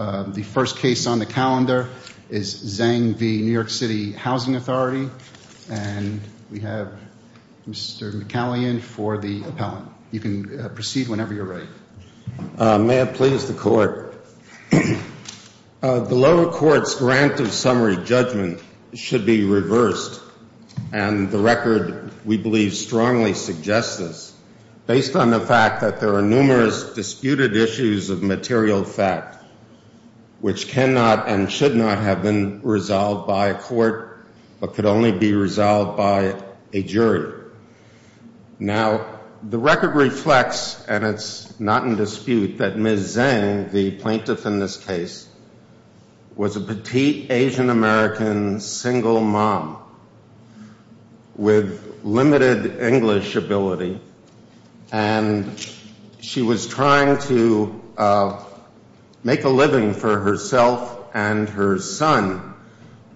The first case on the calendar is Zeng v. New York City Housing Authority, and we have Mr. McCallion for the appellant. You can proceed whenever you're ready. May it please the court. The lower court's grant of summary judgment should be reversed, and the record we believe strongly suggests this, based on the fact that there are numerous disputed issues of material fact. Which cannot and should not have been resolved by a court, but could only be resolved by a jury. Now, the record reflects, and it's not in dispute, that Ms. Zeng, the plaintiff in this case, was a petite Asian-American single mom with limited English ability, and she was trying to make a living for herself and her son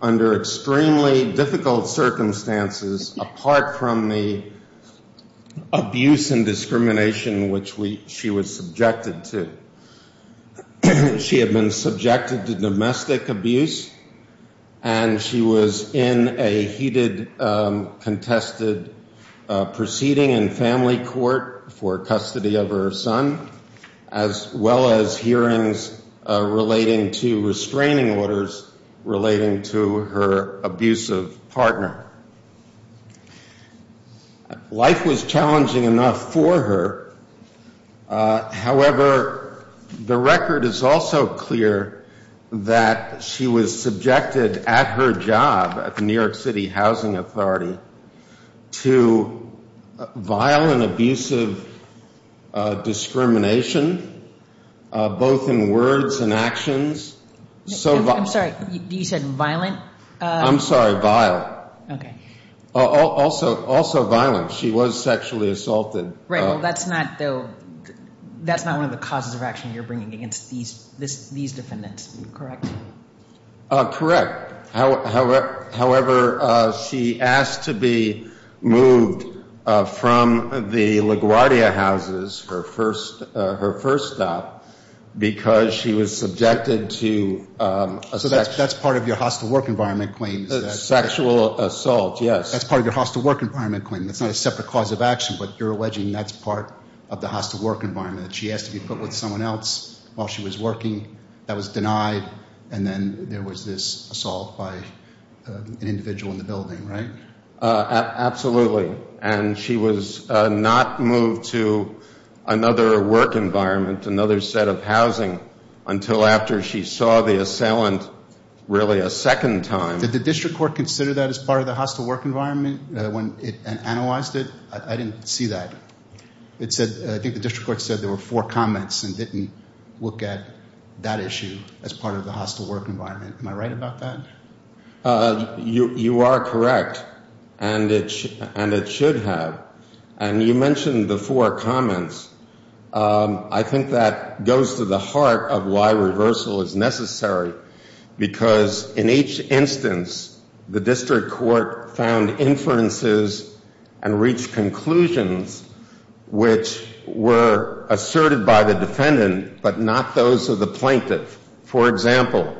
under extremely difficult circumstances, apart from the abuse and discrimination which she was subjected to. She had been subjected to domestic abuse, and she was in a heated, contested proceeding in family court for custody of her son, as well as hearings relating to restraining orders relating to her abusive partner. Life was challenging enough for her, however, the record is also clear that she was subjected at her job at the New York City Housing Authority to violent, abusive discrimination, both in words and actions. So violent. I'm sorry, you said violent? I'm sorry, vile. Okay. Also violent. She was sexually assaulted. Right. Well, that's not one of the causes of action you're bringing against these defendants, correct? Correct. However, she asked to be moved from the LaGuardia houses, her first stop, because she was subjected to a sexual assault. So that's part of your hostile work environment claim. Sexual assault, yes. That's part of your hostile work environment claim. That's not a separate cause of action, but you're alleging that's part of the hostile work environment, that she asked to be put with someone else while she was working, that was denied, and then there was this assault by an individual in the building, right? Absolutely, and she was not moved to another work environment, another set of housing, until after she saw the assailant really a second time. Did the district court consider that as part of the hostile work environment when it analyzed it? I didn't see that. It said, I think the district court said there were four comments and didn't look at that issue as part of the hostile work environment. Am I right about that? You are correct, and it should have. And you mentioned the four comments. I think that goes to the heart of why reversal is necessary, because in each instance, the district court found inferences and reached conclusions which were asserted by the defendant, but not those of the plaintiff. For example,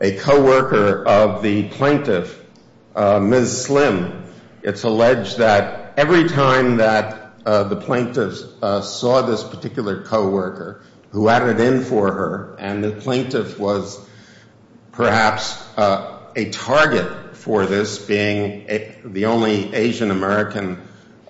a coworker of the plaintiff, Ms. Slim, it's alleged that every time that the plaintiff saw this particular coworker who added in for her, and the plaintiff was perhaps a target for this, being the only Asian-American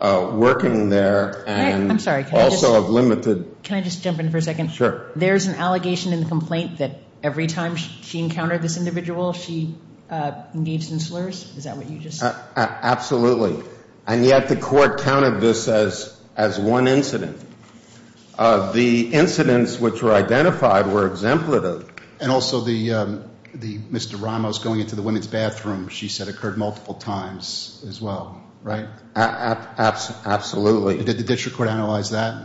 working there. I'm sorry, can I just jump in for a second? Sure. There's an allegation in the complaint that every time she encountered this individual, she engaged in slurs, is that what you just said? Absolutely, and yet the court counted this as one incident. The incidents which were identified were exemplative. And also the Mr. Ramos going into the women's bathroom, she said occurred multiple times as well, right? Absolutely. Did the district court analyze that?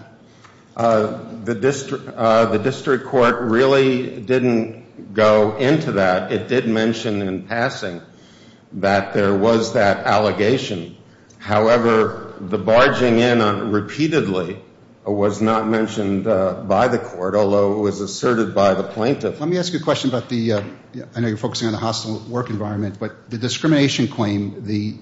The district court really didn't go into that. It did mention in passing that there was that allegation. However, the barging in on it repeatedly was not mentioned by the court, although it was asserted by the plaintiff. Let me ask you a question about the, I know you're focusing on the hostile work environment, but the discrimination claim, the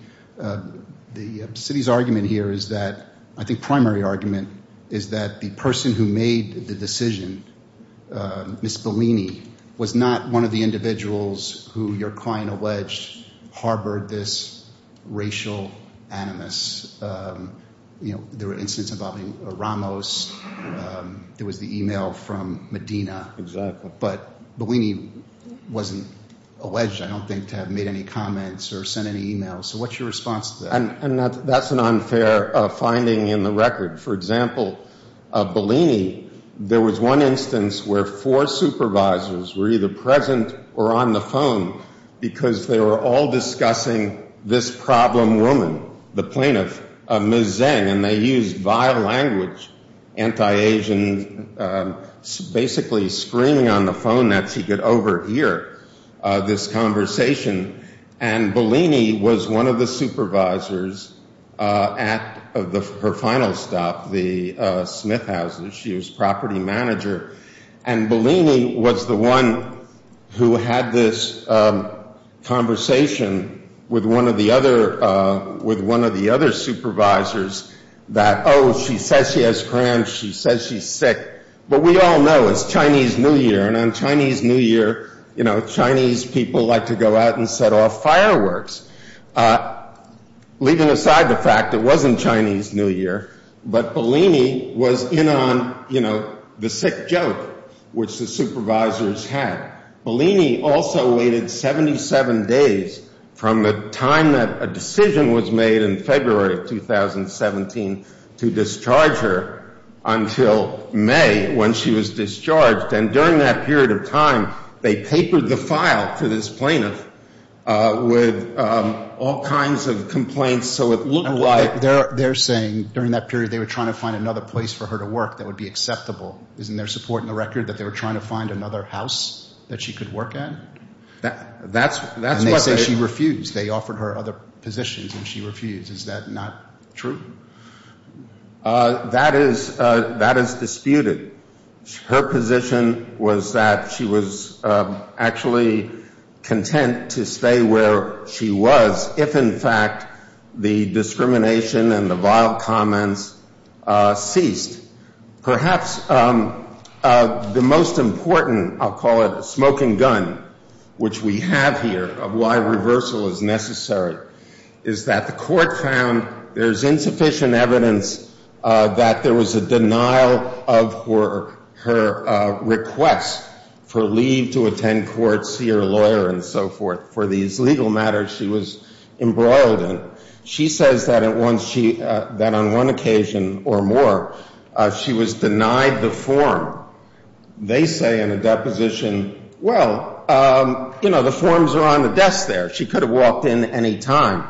city's argument here is that, I think primary argument is that the person who made the decision, Ms. Bellini, was not one of the individuals who your client alleged harbored this racial animus. You know, there were incidents involving Ramos, there was the email from Medina. Exactly. But Bellini wasn't alleged, I don't think, to have made any comments or sent any emails. So what's your response to that? And that's an unfair finding in the record. For example, Bellini, there was one instance where four supervisors were either present or on the phone because they were all discussing this problem woman, the plaintiff, Ms. Zeng. And they used vile language, anti-Asian, basically screaming on the phone that she could overhear this conversation. And Bellini was one of the supervisors at her final stop, the Smith Houses. She was property manager. And Bellini was the one who had this conversation with one of the other supervisors that, oh, she says she has cramps, she says she's sick, but we all know it's Chinese New Year. And on Chinese New Year, you know, Chinese people like to go out and set off fireworks. Leaving aside the fact it wasn't Chinese New Year, but Bellini was in on, you know, the sick joke which the supervisors had. Bellini also waited 77 days from the time that a decision was made in February of 2017 to discharge her until May when she was discharged. And during that period of time, they papered the file to this plaintiff with all kinds of complaints so it looked like they're saying during that period they were trying to find another place for her to work that would be acceptable. Isn't there support in the record that they were trying to find another house that she could work at? And they say she refused. They offered her other positions and she refused. Is that not true? That is disputed. Her position was that she was actually content to stay where she was if, in fact, the discrimination and the vile comments ceased. Perhaps the most important, I'll call it a smoking gun, which we have here, of why reversal is necessary, is that the court found there's insufficient evidence that there was a denial of her request for leave to attend court, see her lawyer, and so forth for these legal matters. She was embroiled in. She says that on one occasion or more, she was denied the form. They say in a deposition, well, you know, the forms are on the desk there. She could have walked in any time.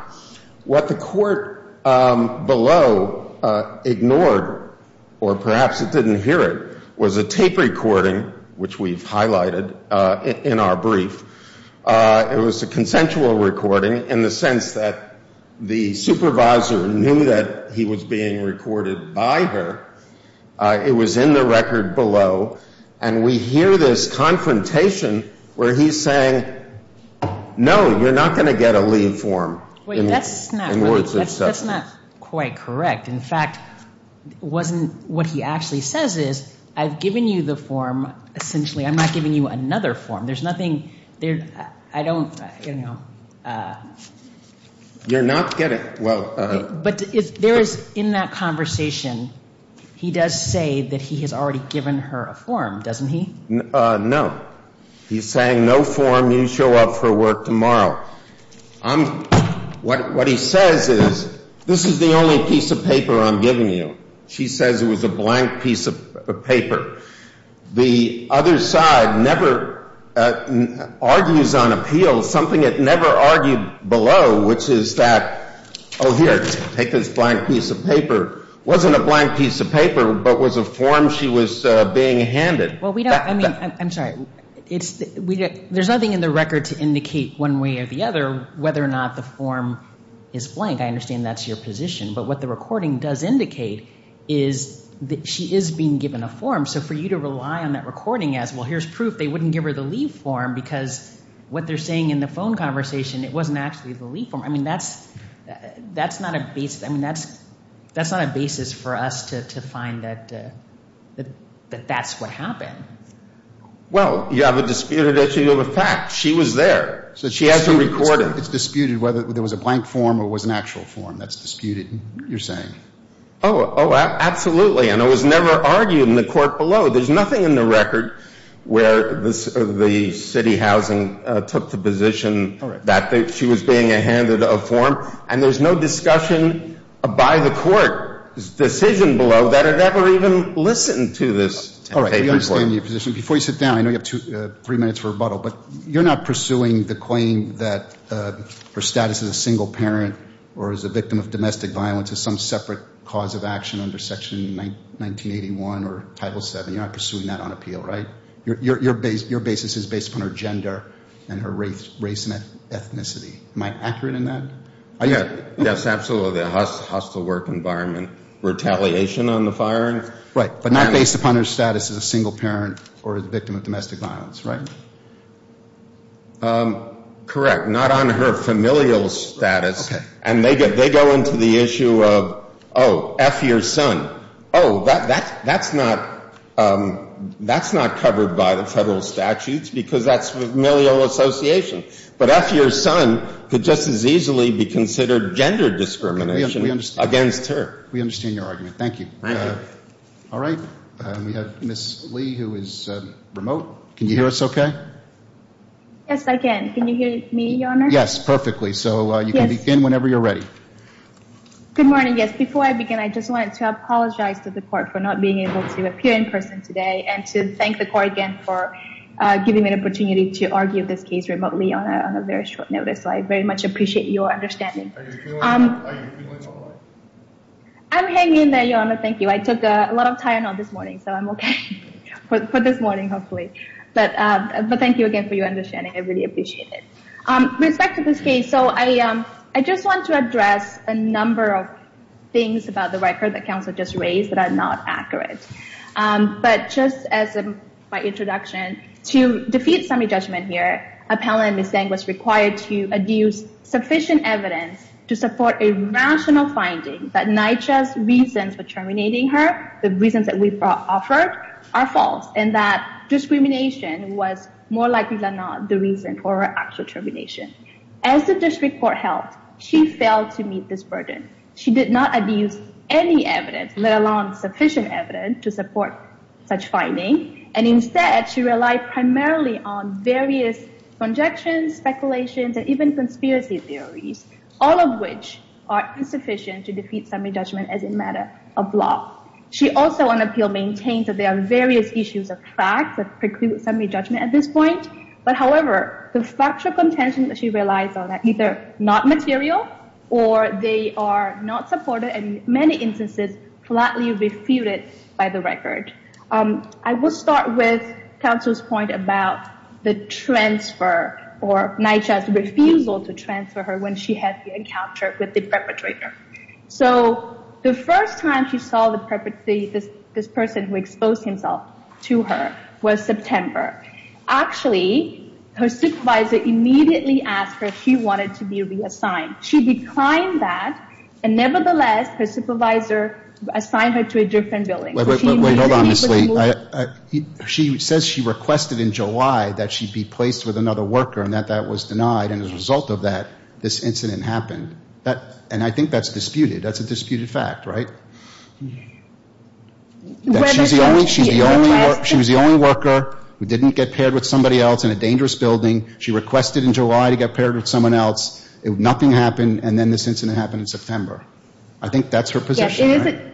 What the court below ignored or perhaps it didn't hear it was a tape recording, which we've highlighted in our brief. It was a consensual recording in the sense that the supervisor knew that he was being recorded by her. It was in the record below. And we hear this confrontation where he's saying, no, you're not going to get a leave form. Wait, that's not quite correct. In fact, what he actually says is, I've given you the form, essentially. I'm not giving you another form. There's nothing there. I don't, you know. You're not getting, well. But there is, in that conversation, he does say that he has already given her a form, doesn't he? No. He's saying no form. You show up for work tomorrow. I'm, what he says is, this is the only piece of paper I'm giving you. She says it was a blank piece of paper. The other side never argues on appeal, something it never argued below, which is that, oh, here, take this blank piece of paper. Wasn't a blank piece of paper, but was a form she was being handed. Well, we don't, I mean, I'm sorry. There's nothing in the record to indicate one way or the other whether or not the form is blank. I understand that's your position. But what the recording does indicate is that she is being given a form. So for you to rely on that recording as, well, here's proof they wouldn't give her the leave form because what they're saying in the phone conversation, it wasn't actually the leave form. I mean, that's, that's not a basis. I mean, that's, that's not a basis for us to find that, that that's what happened. Well, you have a disputed issue of a fact. She was there. So she has to record it. It's disputed whether there was a blank form or was an actual form. That's disputed, you're saying. Oh, absolutely. And it was never argued in the court below. There's nothing in the record where this, the city housing took the position that she was being handed a form. And there's no discussion by the court's decision below that it ever even listened to this. All right, I understand your position. Before you sit down, I know you have two, three minutes for rebuttal. But you're not pursuing the claim that her status as a single parent or as a victim of domestic violence is some separate cause of action under Section 1981 or Title VII. You're not pursuing that on appeal, right? Your, your, your base, your basis is based upon her gender and her race, race and ethnicity. Am I accurate in that? Yeah, yes, absolutely. A hostile work environment. Retaliation on the firing. Right, but not based upon her status as a single parent or as a victim of domestic violence, right? Correct. Not on her familial status. And they get, they go into the issue of, oh, F your son. Oh, that, that, that's not, that's not covered by the federal statutes because that's familial association. But F your son could just as easily be considered gender discrimination against her. We understand your argument. Thank you. All right, we have Ms. Lee who is remote. Can you hear us okay? Yes, I can. Can you hear me, Your Honor? Yes, perfectly. So you can begin whenever you're ready. Good morning. Yes, before I begin, I just wanted to apologize to the court for not being able to appear in person today. And to thank the court again for giving me an opportunity to argue this case remotely on a very short notice. So I very much appreciate your understanding. Are you feeling, are you feeling all right? I'm hanging in there, Your Honor. Thank you. I took a lot of time out this morning, so I'm okay for this morning, hopefully. But, but thank you again for your understanding. I really appreciate it. With respect to this case, so I, I just want to address a number of things about the record that counsel just raised that are not accurate. But just as my introduction, to defeat semi-judgment here, appellant Ms. Zeng was required to adduce sufficient evidence to support a rational finding that NYCHA's reasons for terminating her, the reasons that we've offered, are false. And that discrimination was more likely than not the reason for her actual termination. As the district court held, she failed to meet this burden. She did not adduce any evidence, let alone sufficient evidence, to support such finding. And instead, she relied primarily on various conjectures, speculations, and even conspiracy theories, all of which are insufficient to defeat semi-judgment as a matter of law. She also on appeal maintains that there are various issues of facts that preclude semi-judgment at this point. But however, the factual contentions that she relies on are either not material, or they are not supported in many instances, flatly refuted by the record. I will start with counsel's point about the transfer, or NYCHA's refusal to transfer her when she had the encounter with the perpetrator. So, the first time she saw the perpetrator, this person who exposed himself to her, was September. Actually, her supervisor immediately asked her if she wanted to be reassigned. She declined that, and nevertheless, her supervisor assigned her to a different building. Wait, wait, wait. Hold on, Ms. Lee. She says she requested in July that she be placed with another worker, and that that was denied. And as a result of that, this incident happened. And I think that's disputed. That's a disputed fact, right? She was the only worker who didn't get paired with somebody else in a dangerous building. She requested in July to get paired with someone else. Nothing happened, and then this incident happened in September. I think that's her position, right?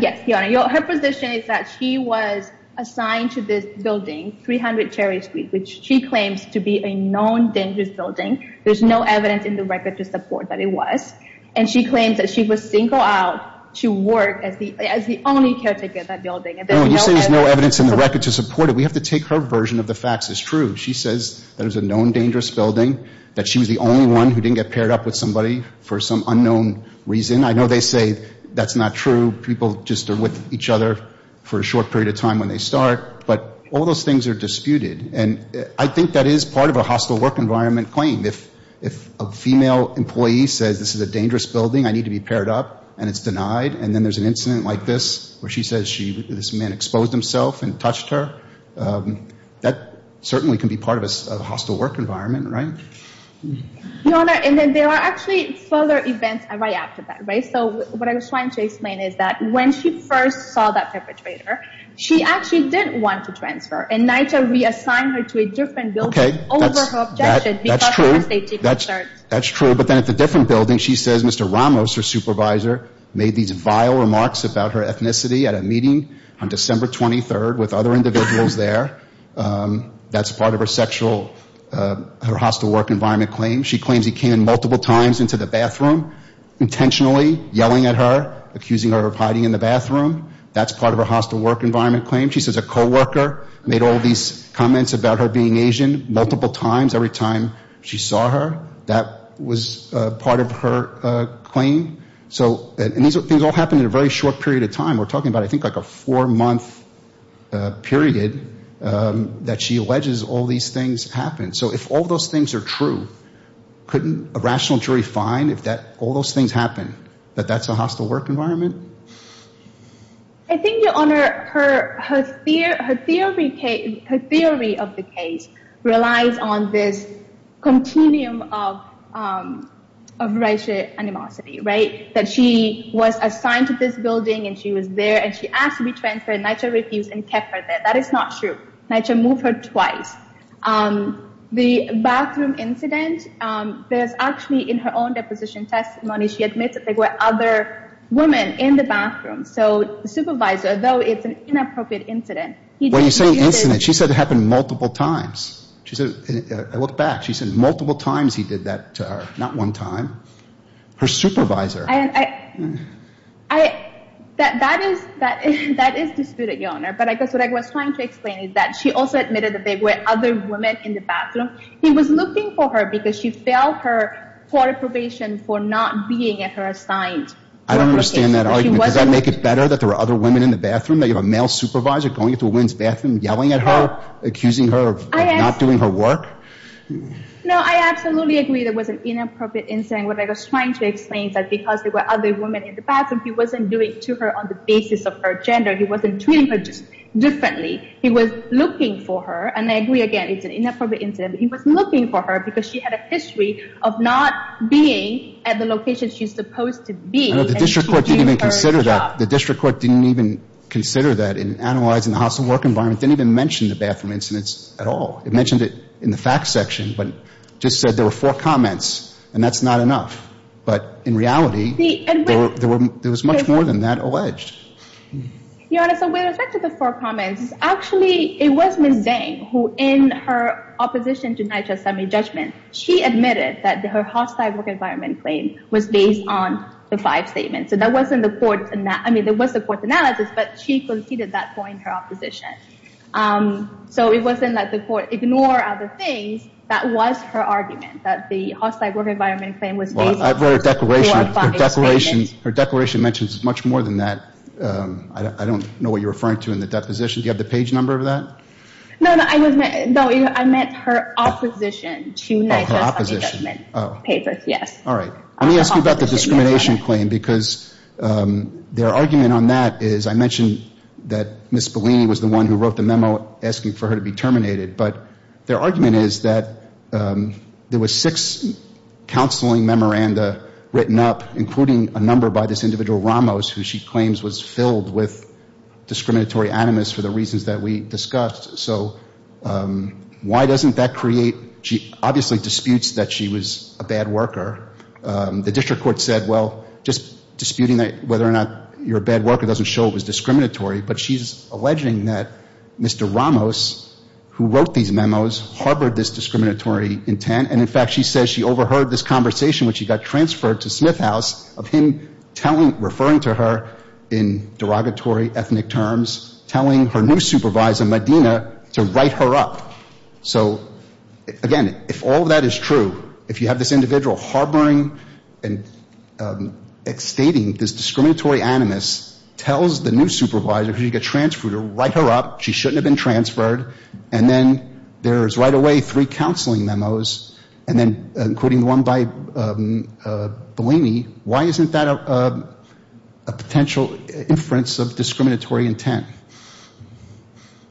Yes, Your Honor. Her position is that she was assigned to this building, 300 Cherry Street, which she claims to be a known dangerous building. There's no evidence in the record to support that it was. And she claims that she was single out to work as the only caretaker of that building. No, you're saying there's no evidence in the record to support it. We have to take her version of the facts as true. She says that it was a known dangerous building, that she was the only one who didn't get paired up with somebody for some unknown reason. I know they say that's not true. People just are with each other for a short period of time when they start. But all those things are disputed. And I think that is part of a hostile work environment claim. If a female employee says, this is a dangerous building, I need to be paired up, and it's denied. And then there's an incident like this, where she says this man exposed himself and touched her. That certainly can be part of a hostile work environment, right? Your Honor, and then there are actually further events right after that, right? So what I was trying to explain is that when she first saw that perpetrator, she actually didn't want to transfer. And NYCHA reassigned her to a different building over her objection because of her safety concerns. That's true. But then at the different building, she says Mr. Ramos, her supervisor, made these vile remarks about her ethnicity at a meeting on December 23rd with other individuals there. That's part of her hostile work environment claim. She claims he came in multiple times into the bathroom, intentionally yelling at her, accusing her of hiding in the bathroom. That's part of her hostile work environment claim. She says a co-worker made all these comments about her being Asian multiple times every time she saw her. That was part of her claim. So these things all happened in a very short period of time. I think like a four-month period that she alleges all these things happened. So if all those things are true, couldn't a rational jury find if all those things happen, that that's a hostile work environment? I think, Your Honor, her theory of the case relies on this continuum of racial animosity, that she was assigned to this building, and she was there, and she asked to be transferred. NYCHA refused and kept her there. That is not true. NYCHA moved her twice. The bathroom incident, there's actually in her own deposition testimony, she admits that there were other women in the bathroom. So the supervisor, though it's an inappropriate incident, he did it. When you say incident, she said it happened multiple times. She said, I look back, she said multiple times he did that to her, not one time. Her supervisor. That is disputed, Your Honor. But I guess what I was trying to explain is that she also admitted that there were other women in the bathroom. He was looking for her because she failed her court probation for not being at her assigned location. I don't understand that argument. Does that make it better that there were other women in the bathroom? That you have a male supervisor going into a woman's bathroom, yelling at her, accusing her of not doing her work? No, I absolutely agree there was an inappropriate incident. What I was trying to explain is that because there were other women in the bathroom, he wasn't doing to her on the basis of her gender. He wasn't treating her just differently. He was looking for her. And I agree again, it's an inappropriate incident. He was looking for her because she had a history of not being at the location she's supposed to be. I know the district court didn't even consider that. The district court didn't even consider that. In analyzing the house and work environment, didn't even mention the bathroom incidents at all. It mentioned it in the facts section, but just said there were four comments and that's not enough. But in reality, there was much more than that alleged. Your Honor, so with respect to the four comments, actually it was Ms. Vang who in her opposition to NYCHA's summary judgment, she admitted that her hostile work environment claim was based on the five statements. So that wasn't the court, I mean, there was a court analysis, but she conceded that point in her opposition. So it wasn't that the court ignored other things, that was her argument that the hostile work environment claim was based on the four or five statements. Well, I've read her declaration. Her declaration mentions much more than that. I don't know what you're referring to in the deposition. Do you have the page number of that? No, no, I meant her opposition to NYCHA's summary judgment papers, yes. All right. Let me ask you about the discrimination claim, because their argument on that is, I mentioned that Ms. Bellini was the one who wrote the memo asking for her to be terminated, but their argument is that there was six counseling memoranda written up, including a number by this individual Ramos, who she claims was filled with discriminatory animus for the reasons that we discussed. So why doesn't that create, she obviously disputes that she was a bad worker. The district court said, well, just disputing whether or not you're a bad worker doesn't show it was discriminatory, but she's alleging that Mr. Ramos, who wrote these memos, harbored this discriminatory intent. And in fact, she says she overheard this conversation when she got transferred to Smith House of him referring to her in derogatory ethnic terms, telling her new supervisor, Medina, to write her up. So again, if all of that is true, if you have this individual harboring and stating this discriminatory animus tells the new supervisor, if she gets transferred, to write her up, she shouldn't have been transferred, and then there's right away three counseling memos, and then including the one by Bellini, why isn't that a potential inference of discriminatory intent?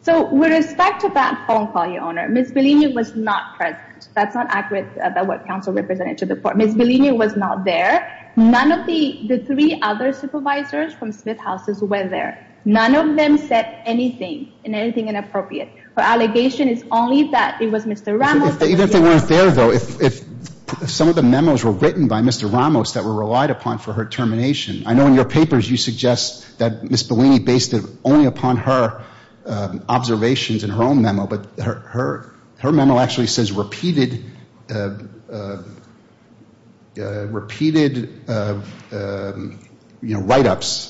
So with respect to that phone call, your Honor, Ms. Bellini was not present. That's not accurate about what counsel represented to the court. Ms. Bellini was not there. None of the three other supervisors from Smith Houses were there. None of them said anything and anything inappropriate. Her allegation is only that it was Mr. Ramos. Even if they weren't there, though, if some of the memos were written by Mr. Ramos that were relied upon for her termination, I know in your papers you suggest that Ms. Bellini based it only upon her observations and her own memo, but her memo actually says repeated write-ups.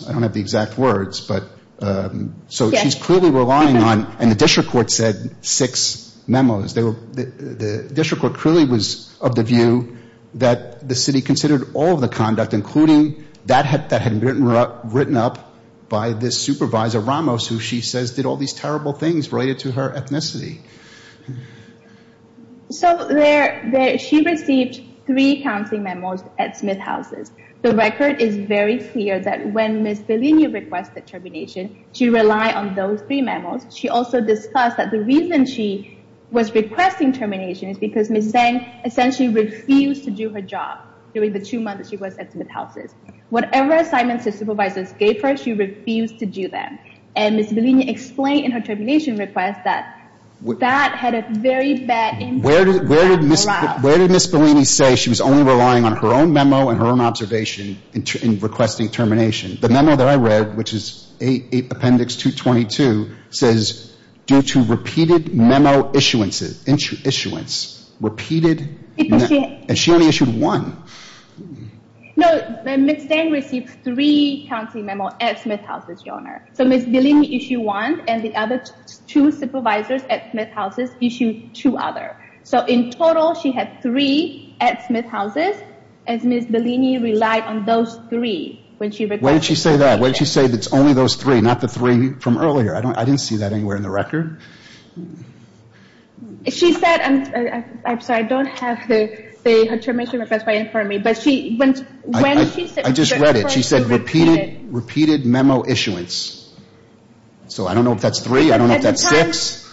I don't have the exact words, but she's clearly relying on, and the district court said six memos. The district court clearly was of the view that the city considered all of the conduct, including that had been written up by this supervisor Ramos, who she says did all these terrible things related to her ethnicity. So she received three counseling memos at Smith Houses. The record is very clear that when Ms. Bellini requested termination, she relied on those three memos. She also discussed that the reason she was requesting termination is because Ms. Tseng essentially refused to do her job during the two months she was at Smith Houses. Whatever assignments the supervisors gave her, she refused to do them, and Ms. Bellini explained in her termination request that that had a very bad impact. Where did Ms. Bellini say she was only relying on her own memo and her own observation in requesting termination? The memo that I read, which is Appendix 222, says due to repeated memo issuance, repeated, and she only issued one. No, Ms. Tseng received three counseling memos at Smith Houses, Your Honor. So Ms. Bellini issued one, and the other two supervisors at Smith Houses issued two others. In total, she had three at Smith Houses, and Ms. Bellini relied on those three. When did she say that? When did she say it's only those three, not the three from earlier? I didn't see that anywhere in the record. She said, I'm sorry, I don't have the termination request right in front of me. I just read it. She said repeated memo issuance. So I don't know if that's three. I don't know if that's six.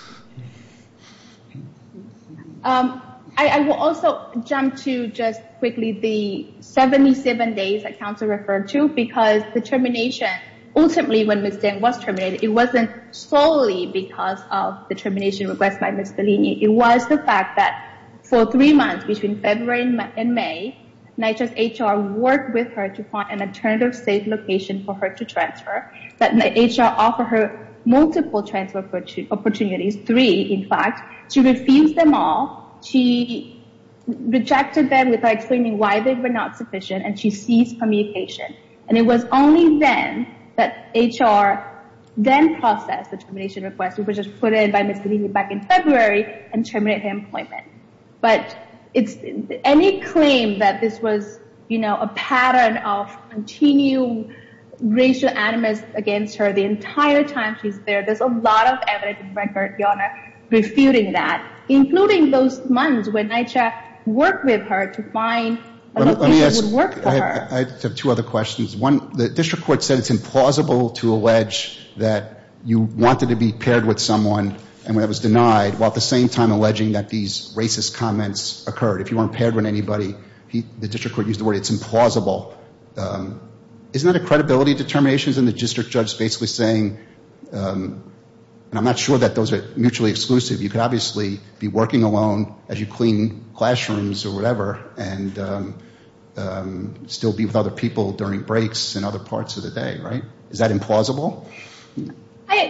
I will also jump to just quickly the 77 days that counsel referred to, because the termination, ultimately when Ms. Tseng was terminated, it wasn't solely because of the termination request by Ms. Bellini. It was the fact that for three months between February and May, NYCHA's HR worked with her to find an alternative safe location for her to transfer, that the HR offered her multiple transfer opportunities, three, in fact. She refused them all. She rejected them without explaining why they were not sufficient. And she ceased communication. And it was only then that HR then processed the termination request. It was just put in by Ms. Bellini back in February and terminated her employment. But any claim that this was a pattern of continual racial animus against her the entire time she's there, there's a lot of evidence in record, Your Honor, refuting that. Including those months when NYCHA worked with her to find a location that would work for her. Let me ask, I have two other questions. One, the district court said it's implausible to allege that you wanted to be paired with someone and when it was denied, while at the same time alleging that these racist comments occurred. If you weren't paired with anybody, the district court used the word, it's implausible. Isn't that a credibility determination? Isn't the district judge basically saying, and I'm not sure that those are mutually exclusive, you could obviously be working alone as you clean classrooms or whatever and still be with other people during breaks and other parts of the day, right? Is that implausible?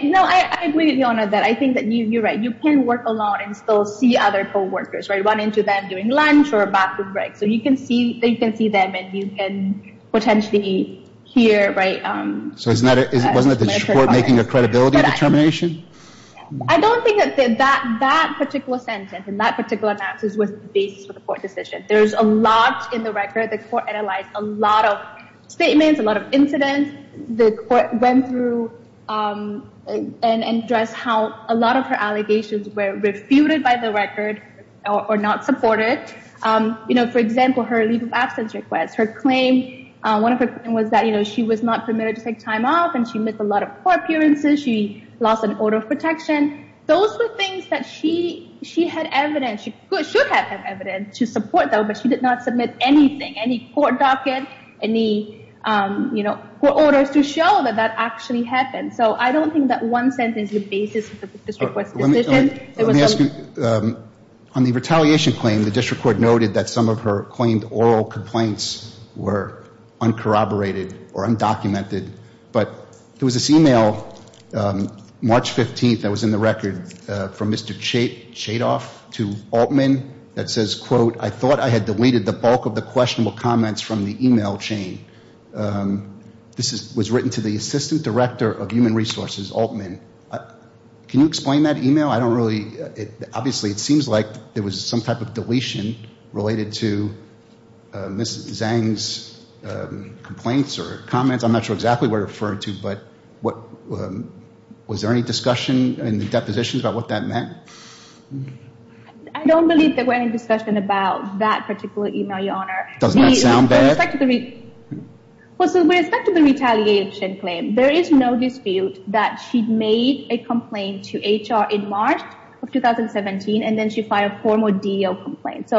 No, I agree with you, Your Honor, that I think that you're right. You can work alone and still see other co-workers, right? Run into them during lunch or a bathroom break. So you can see them and you can potentially hear, right? Wasn't that the district court making a credibility determination? I don't think that that particular sentence and that particular analysis was the basis for the court decision. There's a lot in the record. The court analyzed a lot of statements, a lot of incidents. The court went through and addressed how a lot of her allegations were refuted by the record or not supported. For example, her leave of absence request, her claim, one of her claims was that she was not permitted to take time off and she missed a lot of court appearances. She lost an order of protection. Those were things that she had evidence, she should have evidence to support though, but she did not submit anything, any court docket, any court orders to show that that actually happened. So I don't think that one sentence is the basis of the district court's decision. On the retaliation claim, the district court noted that some of her oral complaints were uncorroborated or undocumented, but there was this email March 15th that was in the record from Mr. Chadoff to Altman that says, quote, I thought I had deleted the bulk of the questionable comments from the email chain. This was written to the assistant director of human resources, Altman. Can you explain that email? I don't really, obviously it seems like there was some type of deletion related to Ms. Zhang's complaints or comments. I'm not sure exactly what it referred to, but was there any discussion in the depositions about what that meant? I don't believe there were any discussion about that particular email, Your Honor. Doesn't that sound bad? Well, so with respect to the retaliation claim, there is no dispute that she'd made a complaint to HR in March of 2017 and then she filed four more DO complaints.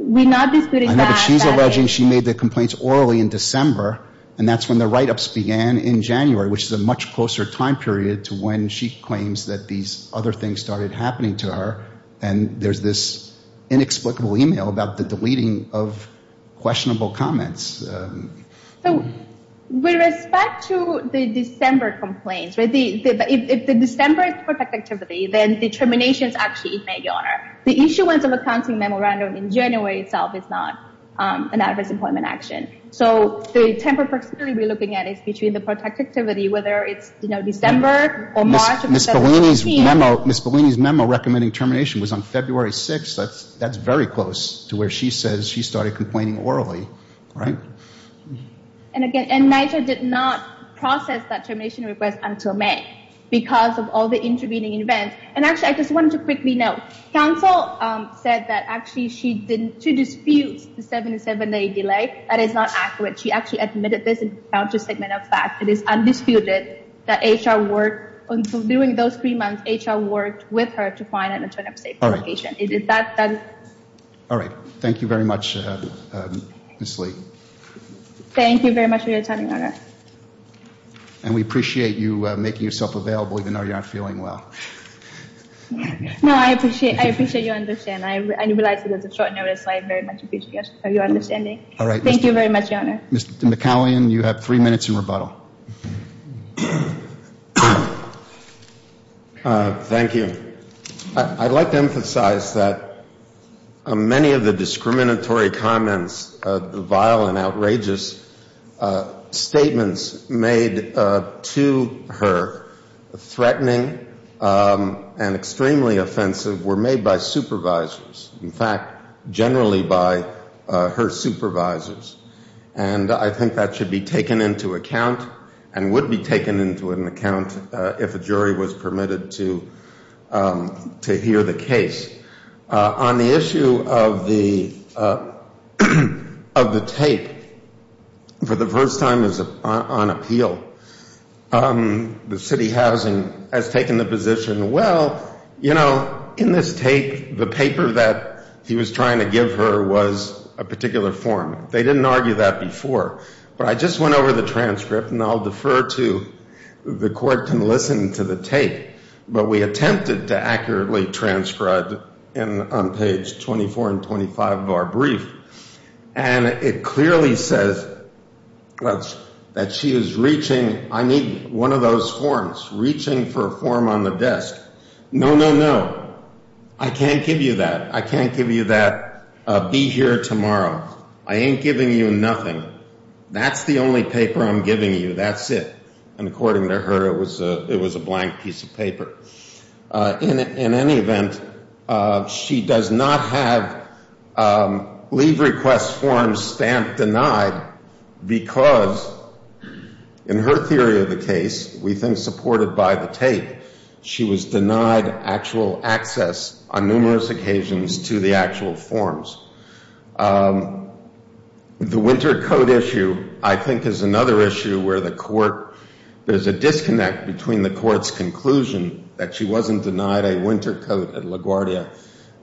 We're not disputing that. I know, but she's alleging she made the complaints orally in December and that's when the write-ups began in January, which is a much closer time period to when she claims that these other things started happening to her and there's this inexplicable email about the deleting of questionable comments. So with respect to the December complaints, if the December is the perfect activity, then the termination is actually made, Your Honor. The issuance of a counting memorandum in January itself is not an adverse employment action. So the temporary proximity we're looking at is between the perfect activity, whether it's December or March of 2017. Ms. Bellini's memo recommending termination was on February 6th. That's very close to where she says she started complaining orally, right? And again, NYCHA did not process that termination request until May because of all the intervening events. And actually, I just wanted to quickly note, counsel said that actually she didn't, she disputes the 77-day delay. That is not accurate. She actually admitted this is a counter-segmental fact. It is undisputed that HR worked, during those three months, HR worked with her to find an alternative safe location. All right. Thank you very much, Ms. Lee. Thank you very much for your time, Your Honor. And we appreciate you making yourself available even though you're not feeling well. No, I appreciate you understand. I realize it was a short notice, so I very much appreciate your understanding. All right. Thank you very much, Your Honor. Mr. McCallion, you have three minutes in rebuttal. Thank you. I'd like to emphasize that many of the discriminatory comments, vile and outrageous statements made to her, threatening and extremely offensive, were made by supervisors. In fact, generally by her supervisors. And I think that should be taken into account and would be taken into an account if a jury was permitted to hear the case. On the issue of the tape, for the first time on appeal, the city housing has taken the position, well, you know, in this tape, the paper that he was trying to give her was a particular form. They didn't argue that before. But I just went over the transcript, and I'll defer to the court can listen to the tape. But we attempted to accurately transcribe on page 24 and 25 of our brief. And it clearly says that she is reaching, I need one of those forms, reaching for a form on the desk. No, no, no. I can't give you that. I can't give you that. Be here tomorrow. I ain't giving you nothing. That's the only paper I'm giving you. That's it. And according to her, it was a blank piece of paper. In any event, she does not have leave request forms stamped denied because in her theory of the case, we think supported by the tape, she was denied actual access on numerous occasions to the actual forms. The winter coat issue, I think, is another issue where the court, there's a disconnect between the court's conclusion that she wasn't denied a winter coat at LaGuardia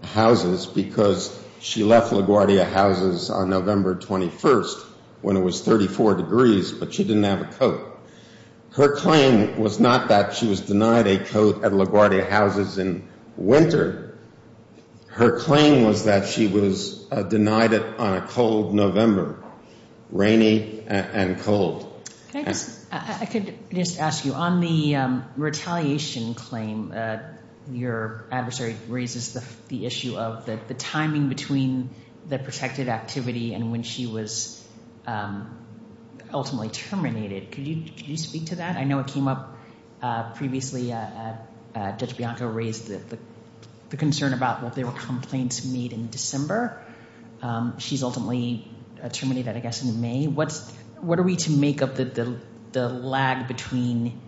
houses because she left LaGuardia houses on November 21st when it was 34 degrees, but she didn't have a coat. Her claim was not that she was denied a coat at LaGuardia houses in winter. Her claim was that she was denied it on a cold November, rainy and cold. I could just ask you, on the retaliation claim, your adversary raises the issue of the timing between the protected activity and when she was ultimately terminated. Could you speak to that? I know it came up previously. Judge Bianco raised the concern about what they were complaints made in December. She's ultimately terminated, I guess, in May. What are we to make of the lag between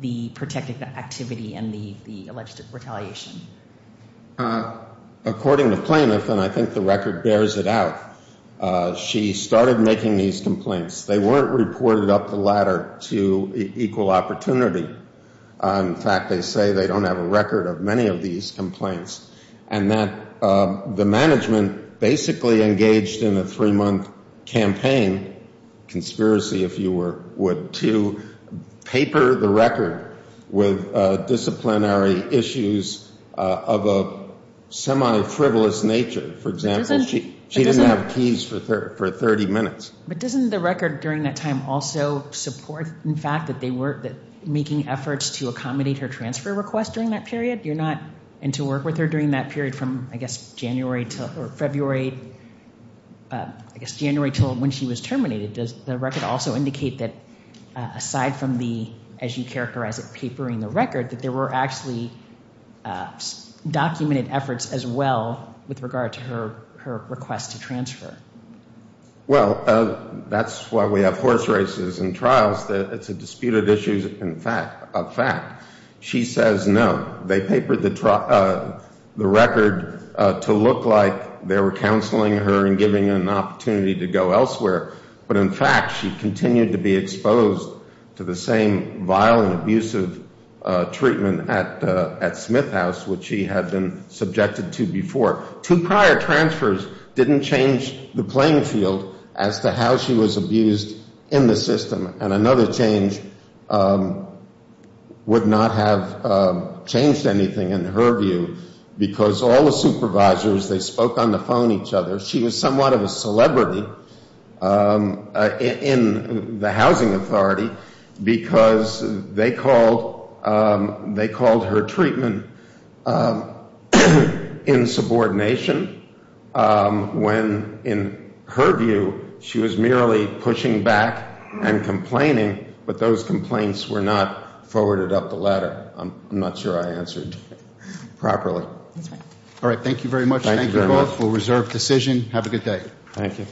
the protected activity and the alleged retaliation? According to plaintiff, and I think the record bears it out, she started making these complaints. They weren't reported up the ladder to equal opportunity. In fact, they say they don't have a record of many of these complaints and that the management basically engaged in a three-month campaign, conspiracy if you were, would to paper the record with disciplinary issues of a semi-frivolous nature. For example, she didn't have keys for 30 minutes. But doesn't the record during that time also support, in fact, that they were making efforts to accommodate her transfer request during that period? You're not in to work with her during that period from, I guess, January to February, I guess, January till when she was terminated. Does the record also indicate that, aside from the, as you characterize it, papering the record, that there were actually documented efforts as well with regard to her request to transfer? Well, that's why we have horse races and trials. It's a disputed issue of fact. She says no. They papered the record to look like they were counseling her and giving her an opportunity to go elsewhere. But in fact, she continued to be exposed to the same vile and abusive treatment at Smith House, which she had been subjected to before. Two prior transfers didn't change the playing field as to how she was abused in the system. And another change would not have changed anything, in her view, because all the supervisors, they spoke on the phone each other. She was somewhat of a celebrity in the housing authority because they called her treatment insubordination when, in her view, she was merely pushing back and complaining, but those complaints were not forwarded up the ladder. I'm not sure I answered properly. All right. Thank you very much. Thank you both. We'll reserve decision. Have a good day. Thank you.